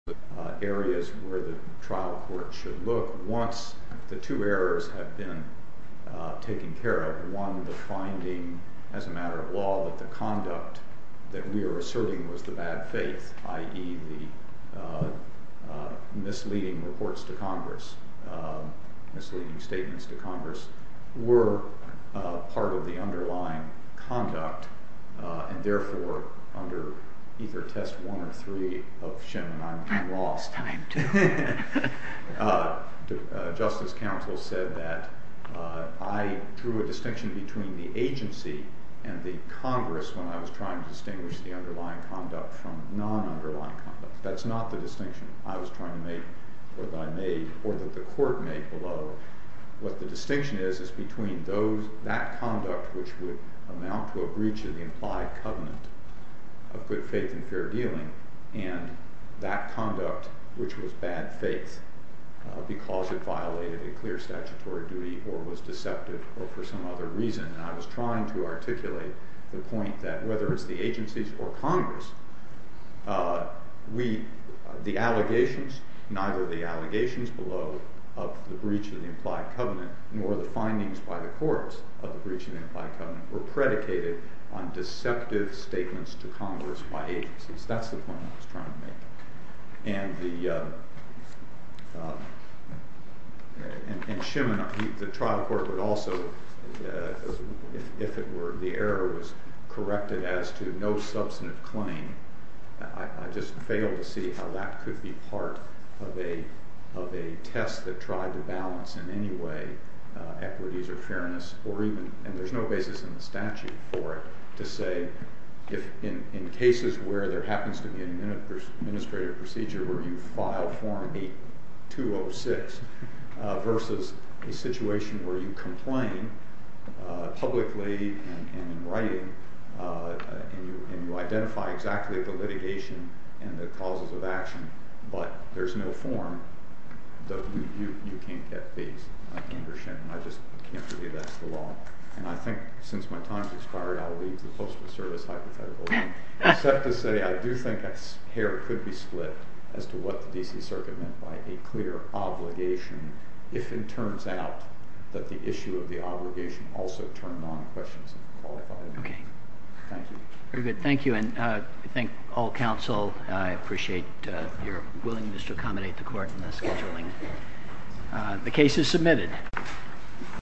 areas where the trial court should look once the two errors have been taken care of, one, the finding as a matter of law that the conduct that we are asserting was the bad faith, i.e. the misleading reports to Congress, misleading statements to Congress, were part of the underlying conduct, and therefore under either test 1 or 3 of Shenman I'm lost. Time to. Justice counsel said that I drew a distinction between the agency and the Congress when I was trying to distinguish the underlying conduct from non-underlying conduct. That's not the distinction I was trying to make or that I made or that the court made below. What the distinction is is between that conduct which would amount to a breach of the implied covenant of good faith and fair dealing and that conduct which was bad faith because it violated a clear statutory duty or was deceptive or for some other reason. I was trying to articulate the point that whether it's the agencies or Congress, the allegations, neither the allegations below of the breach of the implied covenant nor the findings by the courts of the breach of the implied covenant were predicated on deceptive statements to Congress by agencies. That's the point I was trying to make. And the trial court would also, if it were, the error was corrected as to no substantive claim. I just failed to see how that could be part of a test that tried to balance in any way equities or fairness or even, and there's no basis in the statute for it, to say if in cases where there happens to be an administrative procedure where you file form 806 versus a situation where you complain publicly and in writing and you identify exactly the litigation and the causes of action, but there's no form, you can't get these. I just can't believe that's the law. And I think since my time has expired, I'll leave the Postal Service hypothetical except to say I do think a pair could be split as to what the D.C. Circuit meant by a clear obligation if it turns out that the issue of the obligation also turned on questions of qualified immunity. Thank you. Very good. Thank you. And I thank all counsel. I appreciate your willingness to accommodate the court in the scheduling. The case is submitted.